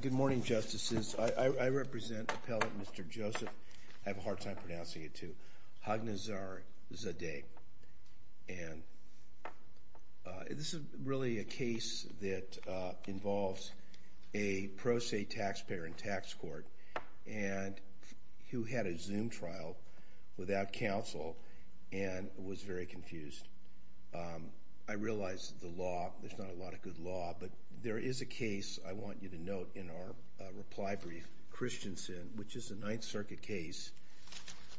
Good morning, Justices. I represent Appellate Mr. Joseph Haghnazarzadeh. This is really a case that involves a pro se taxpayer in tax court who had a Zoom trial without counsel and was very confused. I realize that the law, there's not a lot of good law, but there is a case I want you to note in our reply brief, Christensen, which is a Ninth Circuit case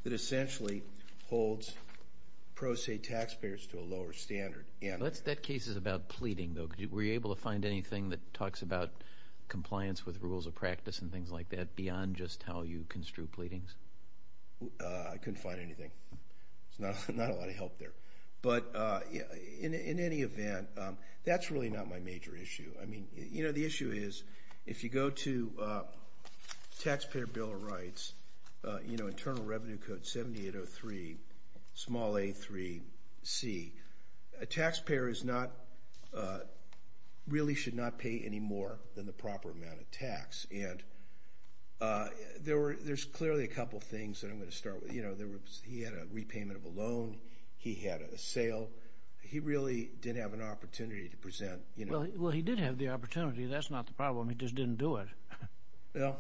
that essentially holds pro se taxpayers to a lower standard. TN That case is about pleading though. Were you able to find anything that talks about compliance with rules of practice and things like that beyond just how you construe pleadings? I couldn't find anything. There's not a lot of help there. But in any event, that's really not my major issue. I mean, you know, the issue is, if you go to Taxpayer Bill of Rights, you know, Internal Revenue Code 7803, small a3c, a taxpayer is not, really should not pay any more than the proper amount of tax. And there were, there's clearly a couple things that I'm going to start with. You know, there was, he had a repayment of a loan. He had a sale. He really didn't have an opportunity to present, you know. TN Well, he did have the opportunity. That's not the problem. He just didn't do it. TN Well,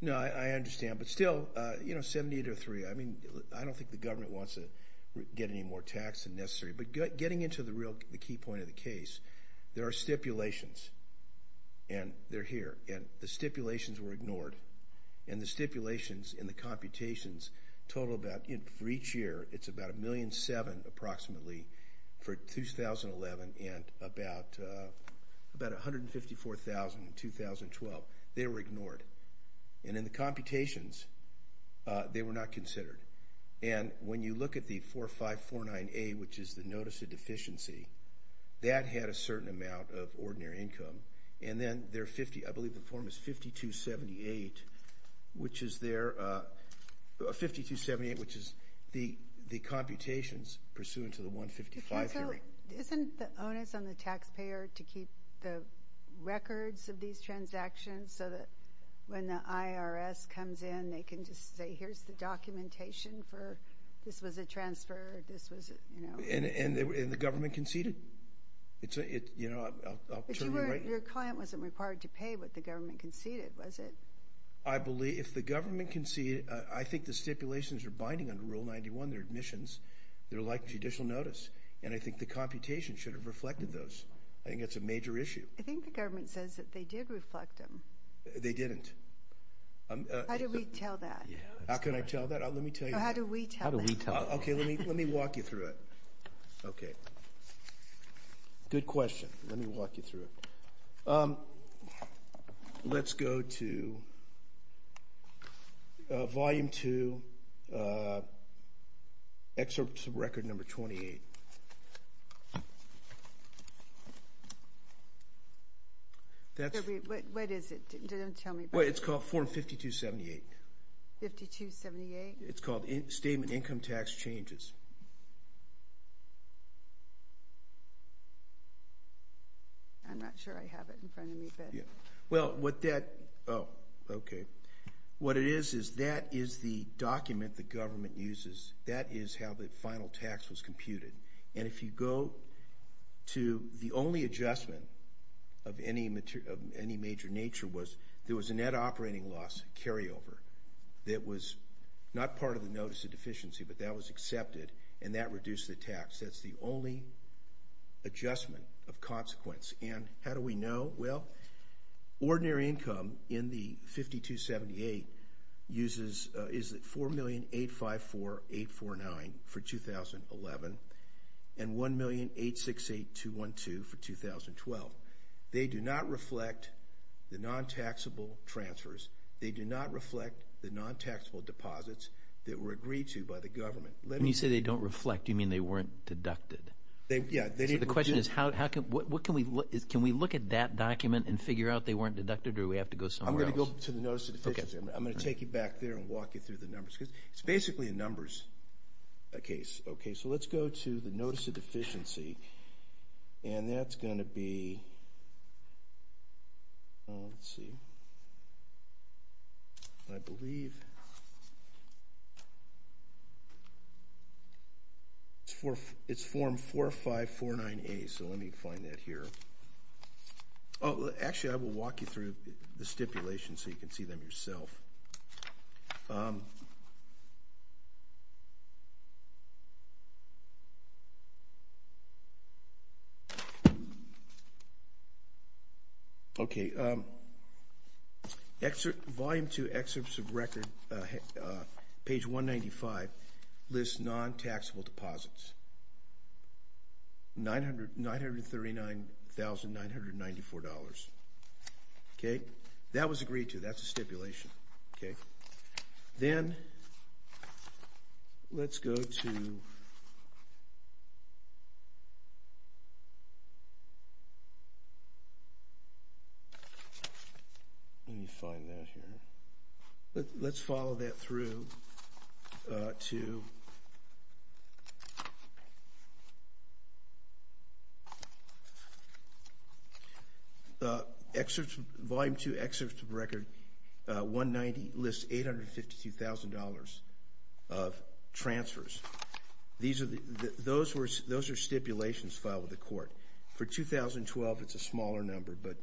no, I understand. But still, you know, 7803, I mean, I don't think the government wants to get any more tax than necessary. But getting into the real, the key point of the case, there are stipulations. And they're here. And the stipulations were ignored. And the stipulations in the computations total about, you know, for each year, it's about a million seven, approximately, for 2011 and about 154,000 in 2012. They were ignored. And in the computations, they were not considered. And when you look at the 4549A, which is the notice of deficiency, that had a certain amount of ordinary income. And then there are 50, I believe the form is 5278, which is there, 5278, which is the computations pursuant to the 155 theory. TN So, isn't the onus on the taxpayer to keep the records of these transactions so that when the IRS comes in, they can just say, here's the documentation for, this was a transfer, this was, you know. And the government conceded. It's a, you know, I'll turn you right. But you weren't, your client wasn't required to pay what the government conceded, was it? I believe, if the government conceded, I think the stipulations are binding under Rule 91, they're admissions, they're like judicial notice. And I think the computation should have reflected those. I think it's a major issue. I think the government says that they did reflect them. They didn't. How do we tell that? How can I tell that? Let me tell you. How do we tell that? How do we tell that? Okay, let me walk you through it. Okay. Good question. Let me walk you through it. Let's go to Volume 2, Excerpt from Record Number 28. What is it? Don't tell me. Well, it's called Form 5278. 5278? It's called Statement of Income Tax Changes. I'm not sure I have it in front of me, but. Well, what that, oh, okay. What it is, is that is the document the government uses. That is how the final tax was computed. And if you go to the only adjustment of any major nature was there was a net operating loss carryover that was not part of the Notice of Deficiency, but that was accepted, and that reduced the tax. That's the only adjustment of consequence. And how do we know? Well, ordinary income in the 5278 uses, is it $4,000,854,849 for 2011 and $1,000,868,212 for 2012. They do not reflect the non-taxable transfers. They do not reflect the non-taxable deposits that were agreed to by the government. When you say they don't reflect, do you mean they weren't deducted? Yeah. So the question is how, what can we, can we look at that document and figure out they weren't deducted or do we have to go somewhere else? I'm going to go to the Notice of Deficiency. I'm going to take you back there and walk you through the numbers because it's basically a numbers case. Okay, so let's go to the Notice of Deficiency, and that's going to be, let's see, I believe it's form 4549A, so let me find that here. Oh, actually I will walk you through the stipulations so you can see them yourself. Okay, volume two excerpts of record, page 195 lists non-taxable deposits. $939,994. Okay, that was agreed to. That's a stipulation. Okay, then let's go to, let me find that here. Let's follow that through to, volume two excerpts of record 190 lists $852,000 of transfers. Those are stipulations filed with the court. For 2012, it's a smaller number, but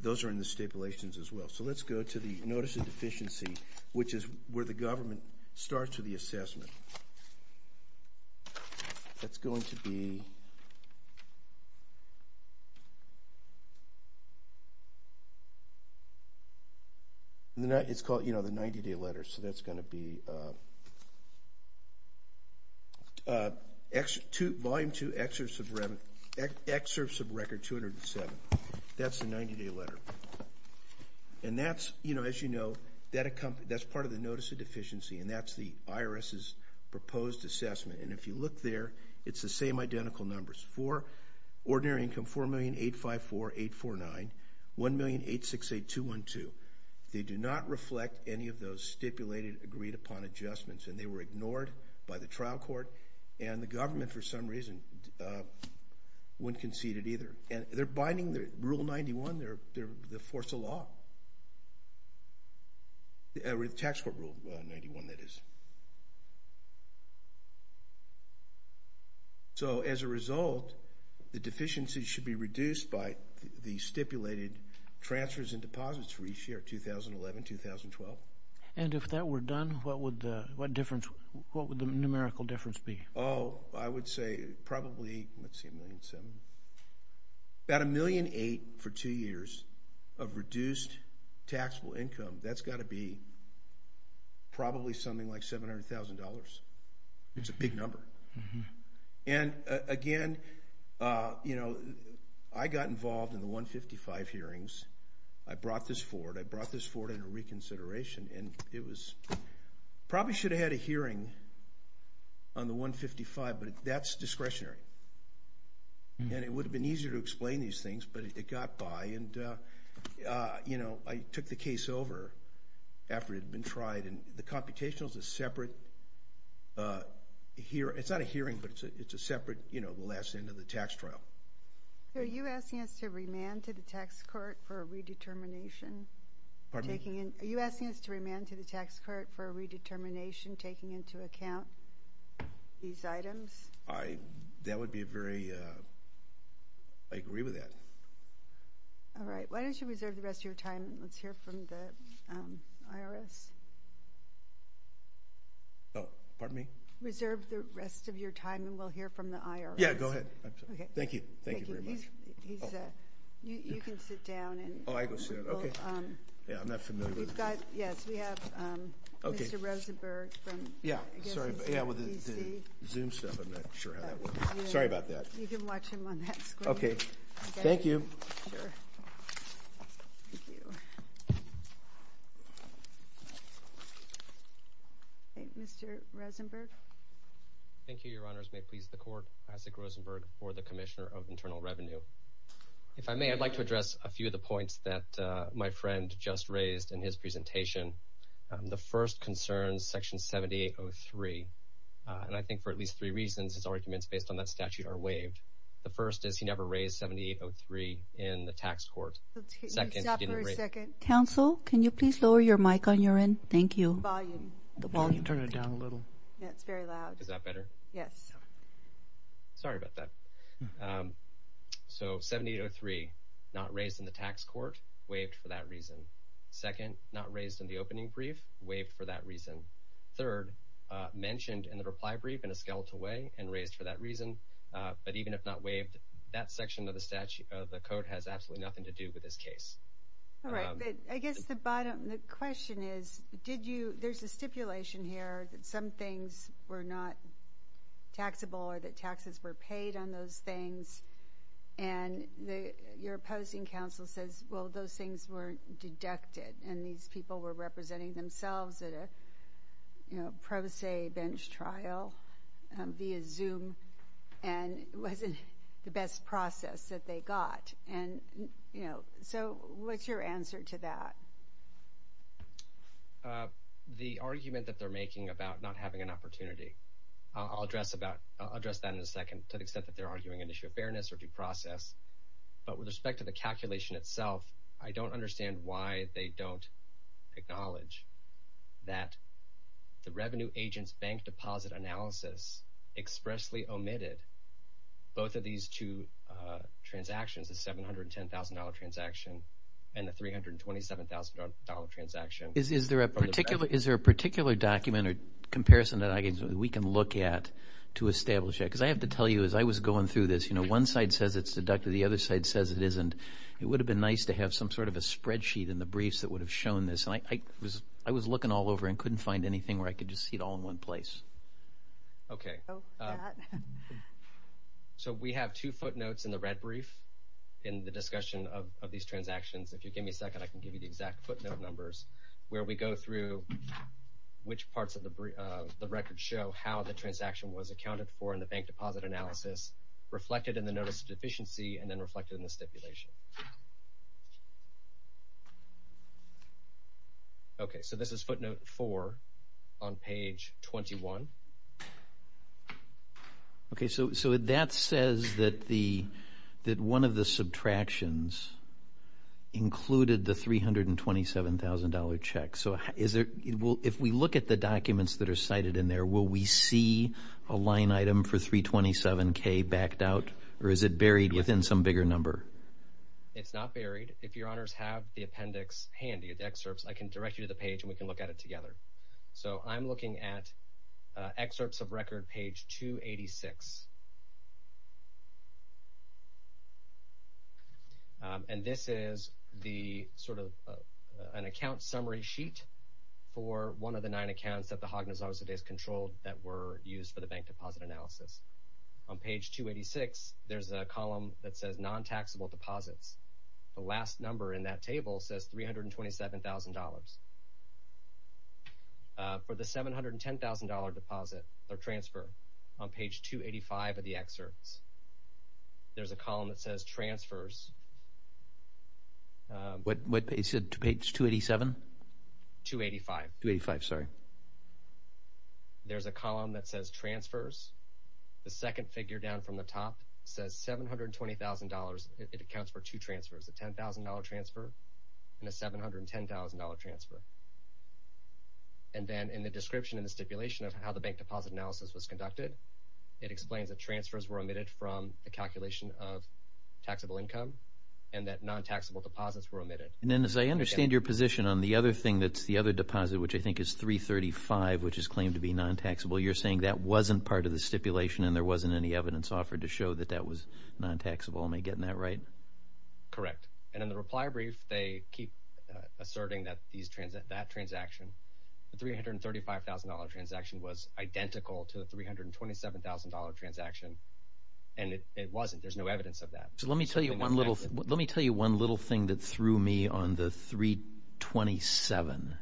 those are in the stipulations as well. So let's go to the Notice of Deficiency, which is where the government starts with the assessment. That's going to be, it's called the 90-day letter, so that's going to be volume two excerpts of record 207. That's the 90-day letter. And that's, you know, as you know, that's part of the Notice of Deficiency, and that's the IRS's proposed assessment. And if you look there, it's the same identical numbers. For ordinary income $4,000,854,849, $1,000,868,212. They do not reflect any of those stipulated agreed-upon adjustments, and they were ignored by the trial court, and the government, for some reason, wouldn't concede it either. Rule 91, they're the force of law. The tax court rule 91, that is. So as a result, the deficiencies should be reduced by the stipulated transfers and deposits for each year, 2011, 2012. And if that were done, what would the numerical difference be? Oh, I would say probably, let's see, $1.7 million. About $1.8 million for two years of reduced taxable income, that's got to be probably something like $700,000. It's a big number. And again, you know, I got involved in the 155 hearings. I brought this forward. I brought this forward in a reconsideration, and it was, probably should have had a hearing on the 155, but that's discretionary. And it would have been easier to explain these things, but it got by, and, you know, I took the case over after it had been tried. And the computational is a separate, it's not a hearing, but it's a separate, you know, the last end of the tax trial. Are you asking us to remand to the tax court for a redetermination? Pardon me? Are you asking us to remand to the tax court for a redetermination, taking into account these items? I, that would be a very, I agree with that. All right. Why don't you reserve the rest of your time, and let's hear from the IRS. Oh, pardon me? Reserve the rest of your time, and we'll hear from the IRS. Yeah, go ahead. Thank you. Thank you very much. He's, you can sit down. Oh, I go sit down. Okay. Yeah, I'm not familiar. We've got, yes, we have Mr. Rosenberg. Yeah, sorry. Yeah, with the Zoom stuff, I'm not sure how that works. Sorry about that. You can watch him on that screen. Okay. Thank you. Sure. Thank you. Mr. Rosenberg. Thank you, Your Honors. May it please the court, Isaac Rosenberg for the Commissioner of Internal Revenue. If I may, I'd like to address a few of the points that my friend just raised in his presentation. The first concerns Section 7803, and I think for at least three reasons, his arguments based on that statute are waived. The first is he never raised 7803 in the tax court. Second, he didn't raise it. Counsel, can you please lower your mic on your end? Thank you. The volume. The volume. Turn it down a little. Yeah, it's very loud. Is that better? Yes. Sorry about that. So, 7803, not raised in the tax court, waived for that reason. Second, not raised in the opening brief, waived for that reason. Third, mentioned in the reply brief in a skeletal way and raised for that reason, but even if not waived, that section of the statute, of the code, has absolutely nothing to do with this case. All right. But I guess the bottom, the question is, did you, there's a stipulation here that some things, and your opposing counsel says, well, those things were deducted, and these people were representing themselves at a, you know, pro se bench trial via Zoom, and it wasn't the best process that they got. And, you know, so what's your answer to that? The argument that they're making about not having an opportunity. I'll address that in a second to the extent that they're arguing an issue of fairness or due process, but with respect to the calculation itself, I don't understand why they don't acknowledge that the revenue agent's bank deposit analysis expressly omitted both of these two transactions, the $710,000 transaction and the $327,000 transaction. Is there a particular document or comparison that we can look at to establish that? Because I have to tell you, as I was going through this, you know, one side says it's deducted, the other side says it isn't. It would have been nice to have some sort of a spreadsheet in the briefs that would have shown this, and I was looking all over and couldn't find anything where I could just see it all in one place. Okay. So we have two footnotes in the red brief in the discussion of these transactions. If you give me a second, I can give you the exact footnote numbers where we go through which parts of the record show how the transaction was accounted for in the bank deposit analysis reflected in the notice of deficiency and then reflected in the stipulation. Okay. So this is footnote four on page 21. Okay. So that says that one of the subtractions included the $327,000 check. So if we look at the documents that are cited in there, will we see a line item for $327,000 backed out, or is it buried within some bigger number? It's not buried. If your honors have the appendix handy, the excerpts, I can direct you to the page and we can look at it together. So I'm looking at excerpts of record page 286. And this is the sort of an account summary sheet for one of the nine accounts that the Hognes-Arzadehs controlled that were used for the bank deposit analysis. On page 286, there's a column that says non-taxable deposits. The last number in that table says $327,000. For the $710,000 deposit or transfer, on page 285 of the excerpts, there's a column that says transfers. What page? Page 287? 285. 285, sorry. There's a column that says transfers. The second figure down from the top says $720,000. It accounts for two transfers, a $10,000 transfer and a $710,000 transfer. And then in the description in the stipulation of how the bank deposit analysis was conducted, it explains that transfers were omitted from the calculation of taxable income and that non-taxable deposits were omitted. And then as I understand your position on the other thing that's the other deposit, which I think is $335,000, which is claimed to be non-taxable, you're saying that wasn't part of the stipulation and there wasn't any evidence offered to show that that was non-taxable. Am I getting that right? Correct. And in the reply brief, they keep asserting that that transaction, the $335,000 transaction was identical to the $327,000 transaction and it wasn't. There's no evidence of that. Let me tell you one little thing that threw me on the 327.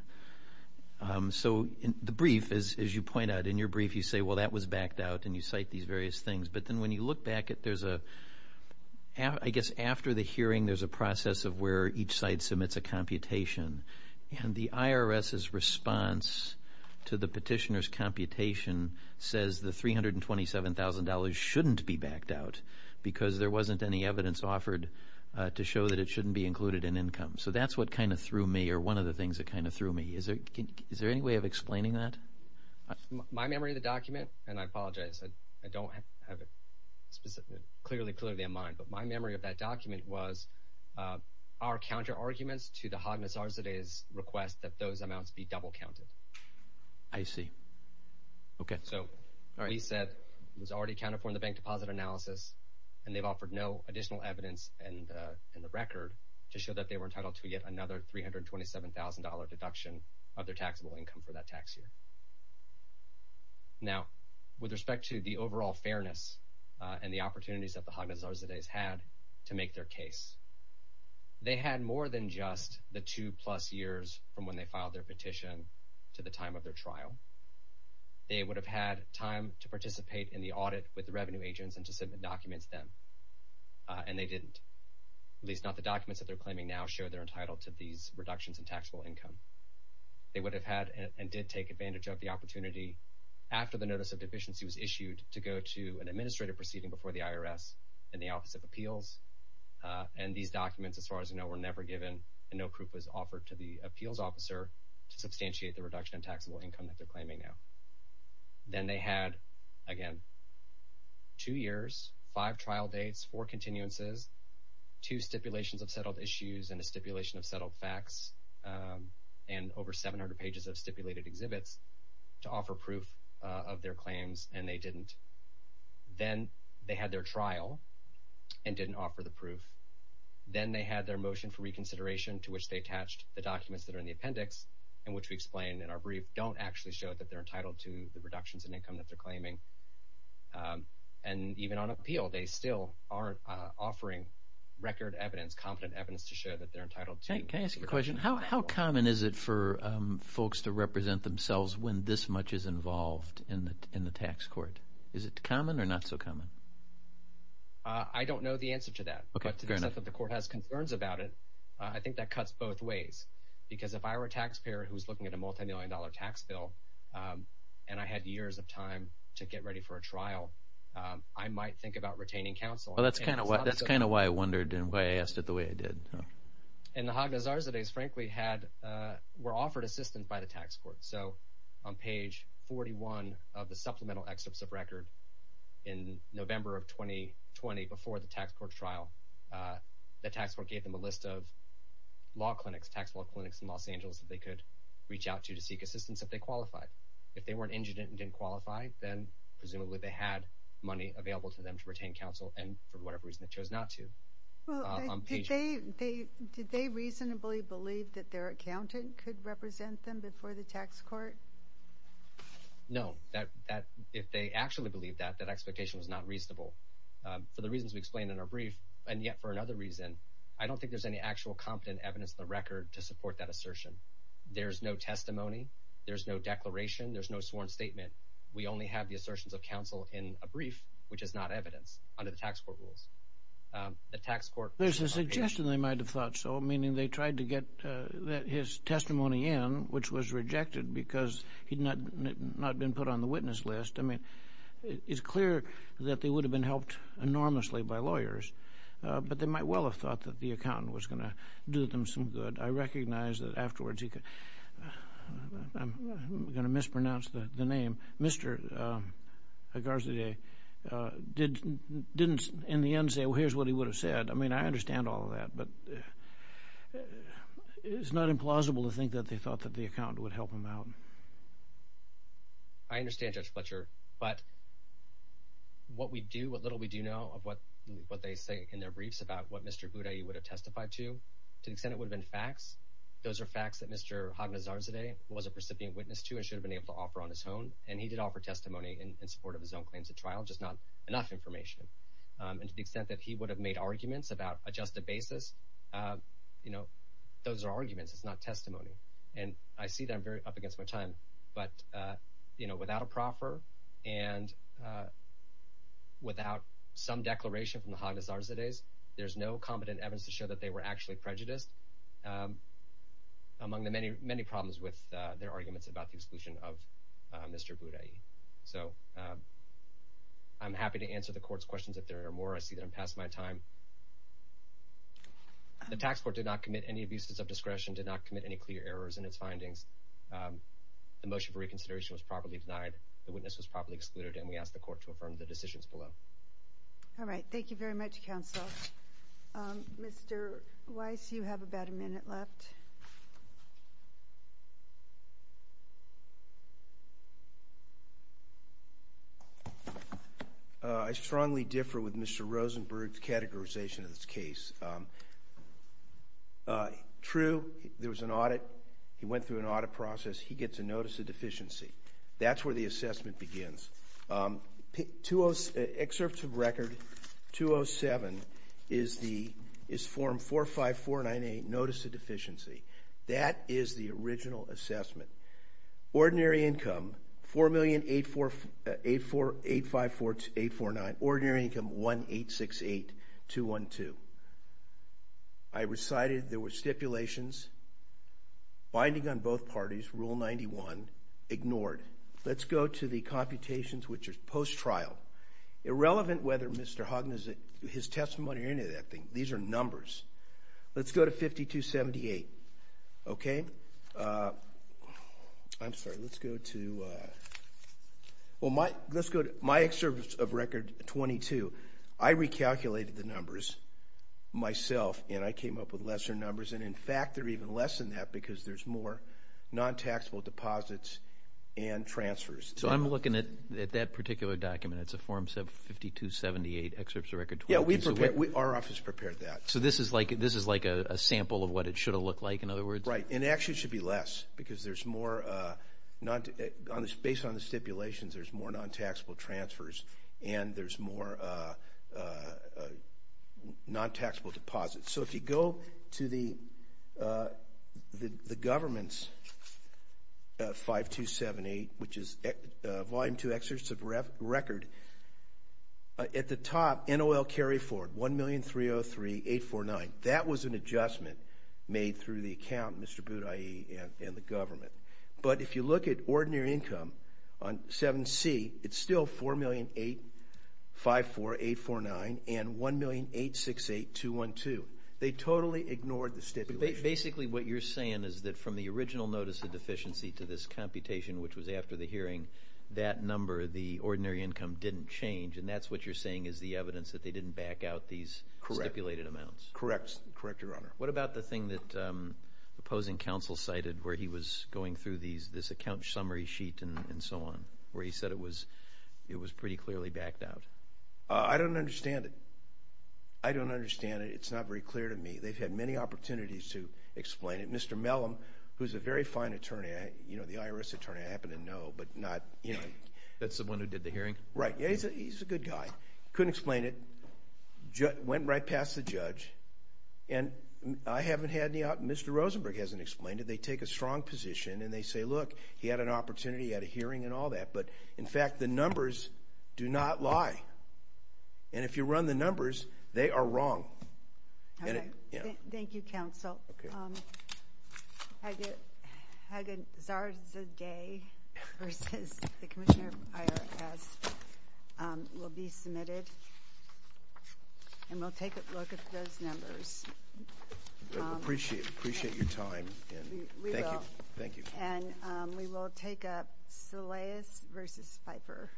The brief, as you point out, in your brief you say, well, that was backed out and you cite these various things. But then when you look back at it, I guess after the hearing there's a process of where each side submits a computation and the IRS's response to the petitioner's computation says the $327,000 shouldn't be backed out because there wasn't any evidence offered to show that it shouldn't be included in income. So that's what kind of threw me or one of the things that kind of threw me. Is there any way of explaining that? My memory of the document, and I apologize, I don't have it clearly, clearly in mind, but my memory of that document was our counter-arguments to the Hogness Arzadeh's request that those amounts be double counted. I see. Okay. So he said it was already accounted for in the bank deposit analysis and they've offered no additional evidence in the record to show that they were entitled to yet another $327,000 deduction of their taxable income for that tax year. Now, with respect to the overall fairness and the opportunities that the Hogness Arzadeh's had to make their case, they had more than just the two plus years from when they filed their petition to the time of their trial. They would have had time to participate in the audit with the revenue agents and to submit documents then, and they didn't, at least not the documents that they're claiming now show they're entitled to these reductions in taxable income. They would have had and did take advantage of the opportunity after the notice of deficiency was issued to go to an administrative proceeding before the IRS in the Office of Appeals, and these documents, as far as I know, were never given and no proof was offered to the appeals officer to substantiate the reduction in taxable income that they're claiming now. Then they had, again, two years, five trial dates, four continuances, two stipulations of settled issues and a stipulation of settled facts, and over 700 pages of stipulated exhibits to offer proof of their claims, and they didn't. Then they had their trial and didn't offer the proof. Then they had their motion for reconsideration to which they attached the documents that are in the appendix and which we explained in our brief don't actually show that they're entitled to the reductions in income that they're claiming. And even on appeal, they still aren't offering record evidence, competent evidence to show that they're entitled to. Can I ask you a question? How common is it for folks to represent themselves when this much is involved in the tax court? Is it common or not so common? I don't know the answer to that, but to the extent that the court has concerns about it, I think that cuts both ways, because if I were a taxpayer who was looking at a get ready for a trial, I might think about retaining counsel. Well, that's kind of why I wondered and why I asked it the way I did. And the Hagnazarsades, frankly, were offered assistance by the tax court. So on page 41 of the supplemental excerpts of record in November of 2020 before the tax court trial, the tax court gave them a list of law clinics, tax law clinics in Los Angeles that they could reach out to to seek assistance if they qualified. If they weren't injured and didn't qualify, then presumably they had money available to them to retain counsel, and for whatever reason they chose not to. Did they reasonably believe that their accountant could represent them before the tax court? No. If they actually believed that, that expectation was not reasonable for the reasons we explained in our brief, and yet for another reason. I don't think there's any actual competent evidence in the record to support that assertion. There's no testimony. There's no declaration. There's no sworn statement. We only have the assertions of counsel in a brief, which is not evidence under the tax court rules. The tax court... There's a suggestion they might have thought so, meaning they tried to get his testimony in, which was rejected because he'd not been put on the witness list. I mean, it's clear that they would have been helped enormously by lawyers, but they might well have thought that the accountant was going to do them some good. I recognize that afterwards he could... I'm going to mispronounce the name. Mr. Garzadeh didn't, in the end, say, well, here's what he would have said. I mean, I understand all of that, but it's not implausible to think that they thought that the accountant would help them out. I understand, Judge Fletcher, but what we do, what little we do know of what they say in their briefs about what Mr. Boudaille would have testified to, to the extent it would have been facts, those are facts that Mr. Hognizarzadeh was a recipient witness to and should have been able to offer on his own, and he did offer testimony in support of his own claims at trial, just not enough information. And to the extent that he would have made arguments about a just a basis, you know, those are arguments, it's not testimony. And I see that I'm very up against my time, but, you know, without a proffer and without some declaration from the Hognizarzadehs, there's no competent evidence to show that they were actually prejudiced among the many problems with their arguments about the exclusion of Mr. Boudaille. So, I'm happy to answer the Court's questions if there are more. I see that I'm past my time. The Tax Court did not commit any abuses of discretion, did not commit any clear errors in its findings. The motion for reconsideration was properly denied. The witness was properly excluded, and we ask the Court to affirm the decisions below. All right. Thank you very much, Counsel. Mr. Weiss, you have about a minute left. I strongly differ with Mr. Rosenberg's categorization of this case. True, there was an audit. He went through an audit process. He gets a notice of deficiency. That's where the assessment begins. Excerpts of Record 207 is Form 45498, Notice of Deficiency. That is the original assessment. Ordinary income, $4,854,849. Ordinary income, $1,868,212. I recited there were stipulations. Binding on both parties, Rule 91, ignored. Let's go to the computations, which are post-trial. Irrelevant whether Mr. Hoggan, his testimony, or any of that thing, these are numbers. Let's go to 5278, okay? I'm sorry. Let's go to my excerpts of Record 22. I recalculated the numbers myself, and I came up with lesser numbers. In fact, they're even less than that because there's more non-taxable deposits and transfers. So I'm looking at that particular document. It's a Form 5278, Excerpts of Record 2007. Yeah, our office prepared that. So this is like a sample of what it should have looked like, in other words? Right, and it actually should be less because there's more non-taxable. Based on the stipulations, there's more non-taxable transfers, and there's more non-taxable deposits. So if you go to the government's 5278, which is Volume 2, Excerpts of Record, at the top, NOL carry forward, $1,303,849. That was an adjustment made through the account, Mr. Boudaille and the government. But if you look at ordinary income on 7C, it's still $4,008,54849 and $1,008,68212. They totally ignored the stipulations. Basically what you're saying is that from the original notice of deficiency to this computation, which was after the hearing, that number, the ordinary income, didn't change. And that's what you're saying is the evidence that they didn't back out these stipulated amounts. Correct. Correct, Your Honor. What about the thing that opposing counsel cited where he was going through this account summary sheet and so on, where he said it was pretty clearly backed out? I don't understand it. I don't understand it. It's not very clear to me. They've had many opportunities to explain it. Mr. Mellom, who's a very fine attorney, the IRS attorney, I happen to know, but not – That's the one who did the hearing? Right. He's a good guy. Couldn't explain it. Went right past the judge, and I haven't had any – Mr. Rosenberg hasn't explained it. They take a strong position, and they say, look, he had an opportunity. He had a hearing and all that. But, in fact, the numbers do not lie. And if you run the numbers, they are wrong. Okay. Thank you, counsel. Hagan Zarzadeh v. the Commissioner of the IRS will be submitted, and we'll take a look at those numbers. Appreciate your time. We will. Thank you. Thank you. And we will take up Solais v. Pfeiffer.